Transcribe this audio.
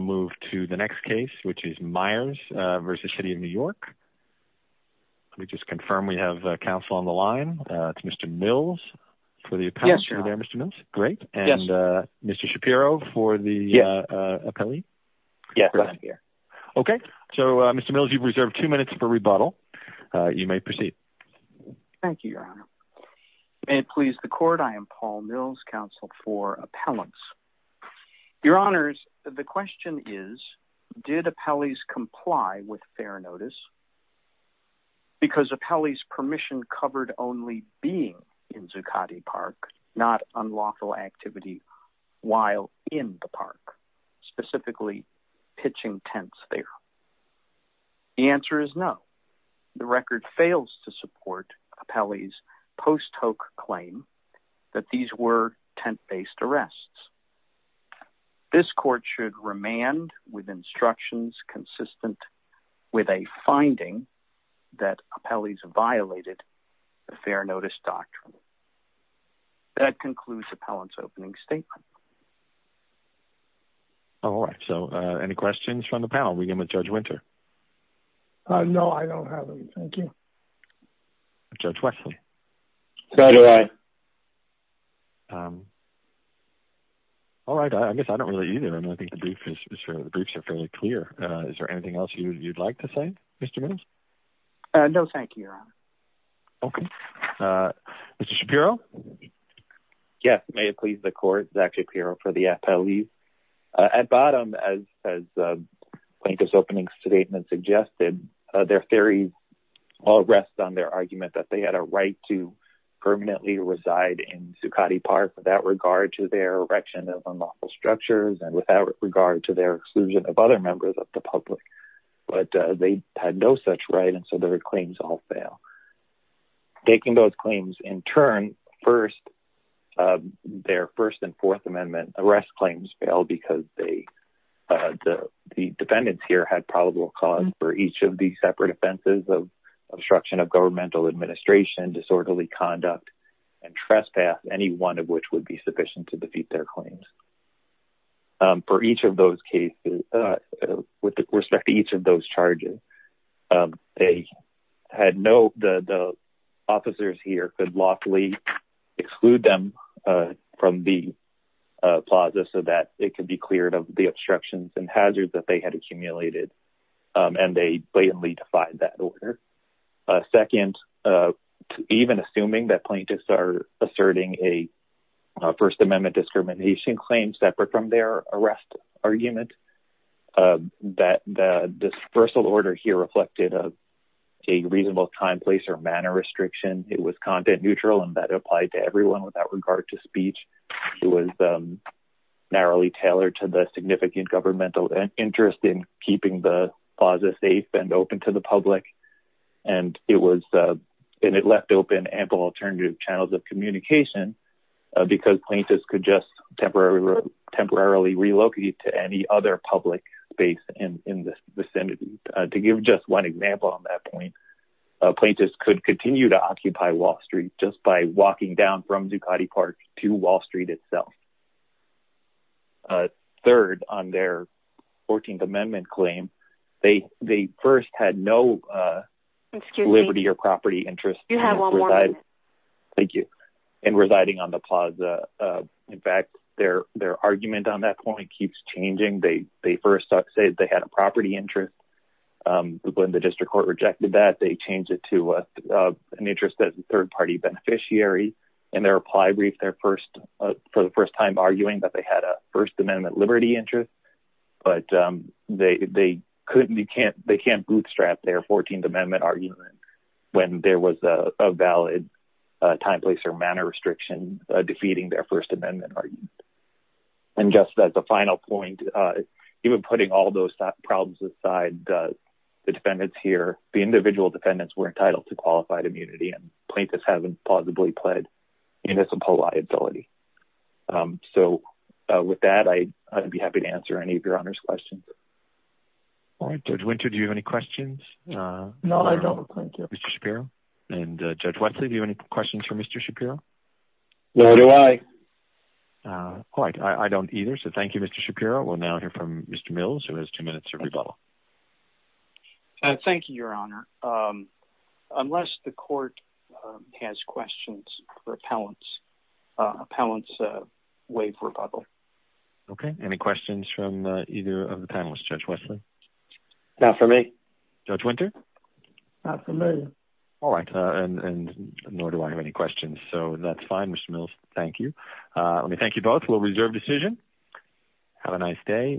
Mr. Mills, you've reserved 2 minutes for rebuttal. You may proceed. Thank you, Your Honor. May it please the Court, I am Paul Mills, counsel for Appellants. Your Honors, the question is, did Appellees comply with Fair Notice? Because Appellees' permission covered only being in Zuccotti Park, not unlawful activity while in the park, specifically pitching tents there. The answer is no. The record fails to support Appellees' post-hook claim that these were tent-based arrests. This Court should remand with instructions consistent with a finding that Appellees violated the Fair Notice Doctrine. That concludes Appellants' opening statement. All right, so any questions from the panel? We begin with Judge Winter. No, I don't have any, thank you. Judge Wexler? No, Your Honor. All right, I guess I don't really either, I mean, I think the briefs are fairly clear. Is there anything else you'd like to say, Mr. Mills? No, thank you, Your Honor. Okay. Mr. Shapiro? Yes, may it please the Court, Zach Shapiro for the Appellees. At bottom, as Plaintiff's opening statement suggested, their theory all rests on their argument that they had a right to permanently reside in Zuccotti Park without regard to their erection of unlawful structures and without regard to their exclusion of other members of the public, but they had no such right, and so their claims all fail. Taking those claims in turn, first, their First and Fourth Amendment arrest claims fail because the defendants here had probable cause for each of the separate offenses of obstruction of governmental administration, disorderly conduct, and trespass, any one of which would be sufficient to defeat their claims. For each of those cases, with respect to each of those charges, they had no, the officers here could lawfully exclude them from the plaza so that it could be cleared of the obstructions and hazards that they had accumulated, and they blatantly defied that order. Second, even assuming that plaintiffs are asserting a First Amendment discrimination claim separate from their arrest argument, that the dispersal order here reflected a reasonable time, place, or manner restriction. It was content neutral and that applied to everyone without regard to speech. It was narrowly tailored to the significant governmental interest in keeping the plaza safe and open to the public, and it left open ample alternative channels of communication because plaintiffs could just temporarily relocate to any other public space in the vicinity. To give just one example on that point, plaintiffs could continue to occupy Wall Street just by walking down from Zuccotti Park to Wall Street itself. Third, on their 14th Amendment claim, they first had no liberty or property interest in residing on the plaza. In fact, their argument on that point keeps changing. They first said they had a property interest. When the district court rejected that, they changed it to an interest as a third party beneficiary. In their reply brief, for the first time, they argued that they had a First Amendment liberty interest, but they can't bootstrap their 14th Amendment argument when there was a valid time, place, or manner restriction defeating their First Amendment argument. And just as a final point, even putting all those problems aside, the defendants here, the individual defendants, were entitled to qualified immunity. And plaintiffs haven't plausibly pled municipal liability. So with that, I'd be happy to answer any of your Honor's questions. All right, Judge Winter, do you have any questions? No, I don't. Thank you, Mr. Shapiro. And Judge Wesley, do you have any questions for Mr. Shapiro? No, do I. All right, I don't either. So thank you, Mr. Shapiro. We'll now hear from Mr. Mills, who has two minutes of rebuttal. Thank you, Your Honor. Unless the court has questions for appellants, appellants waive rebuttal. OK, any questions from either of the panelists, Judge Wesley? Not for me. Judge Winter? Not for me. All right. And nor do I have any questions. So that's fine, Mr. Mills. Thank you. Let me thank you both. We'll reserve decision. Have a nice day.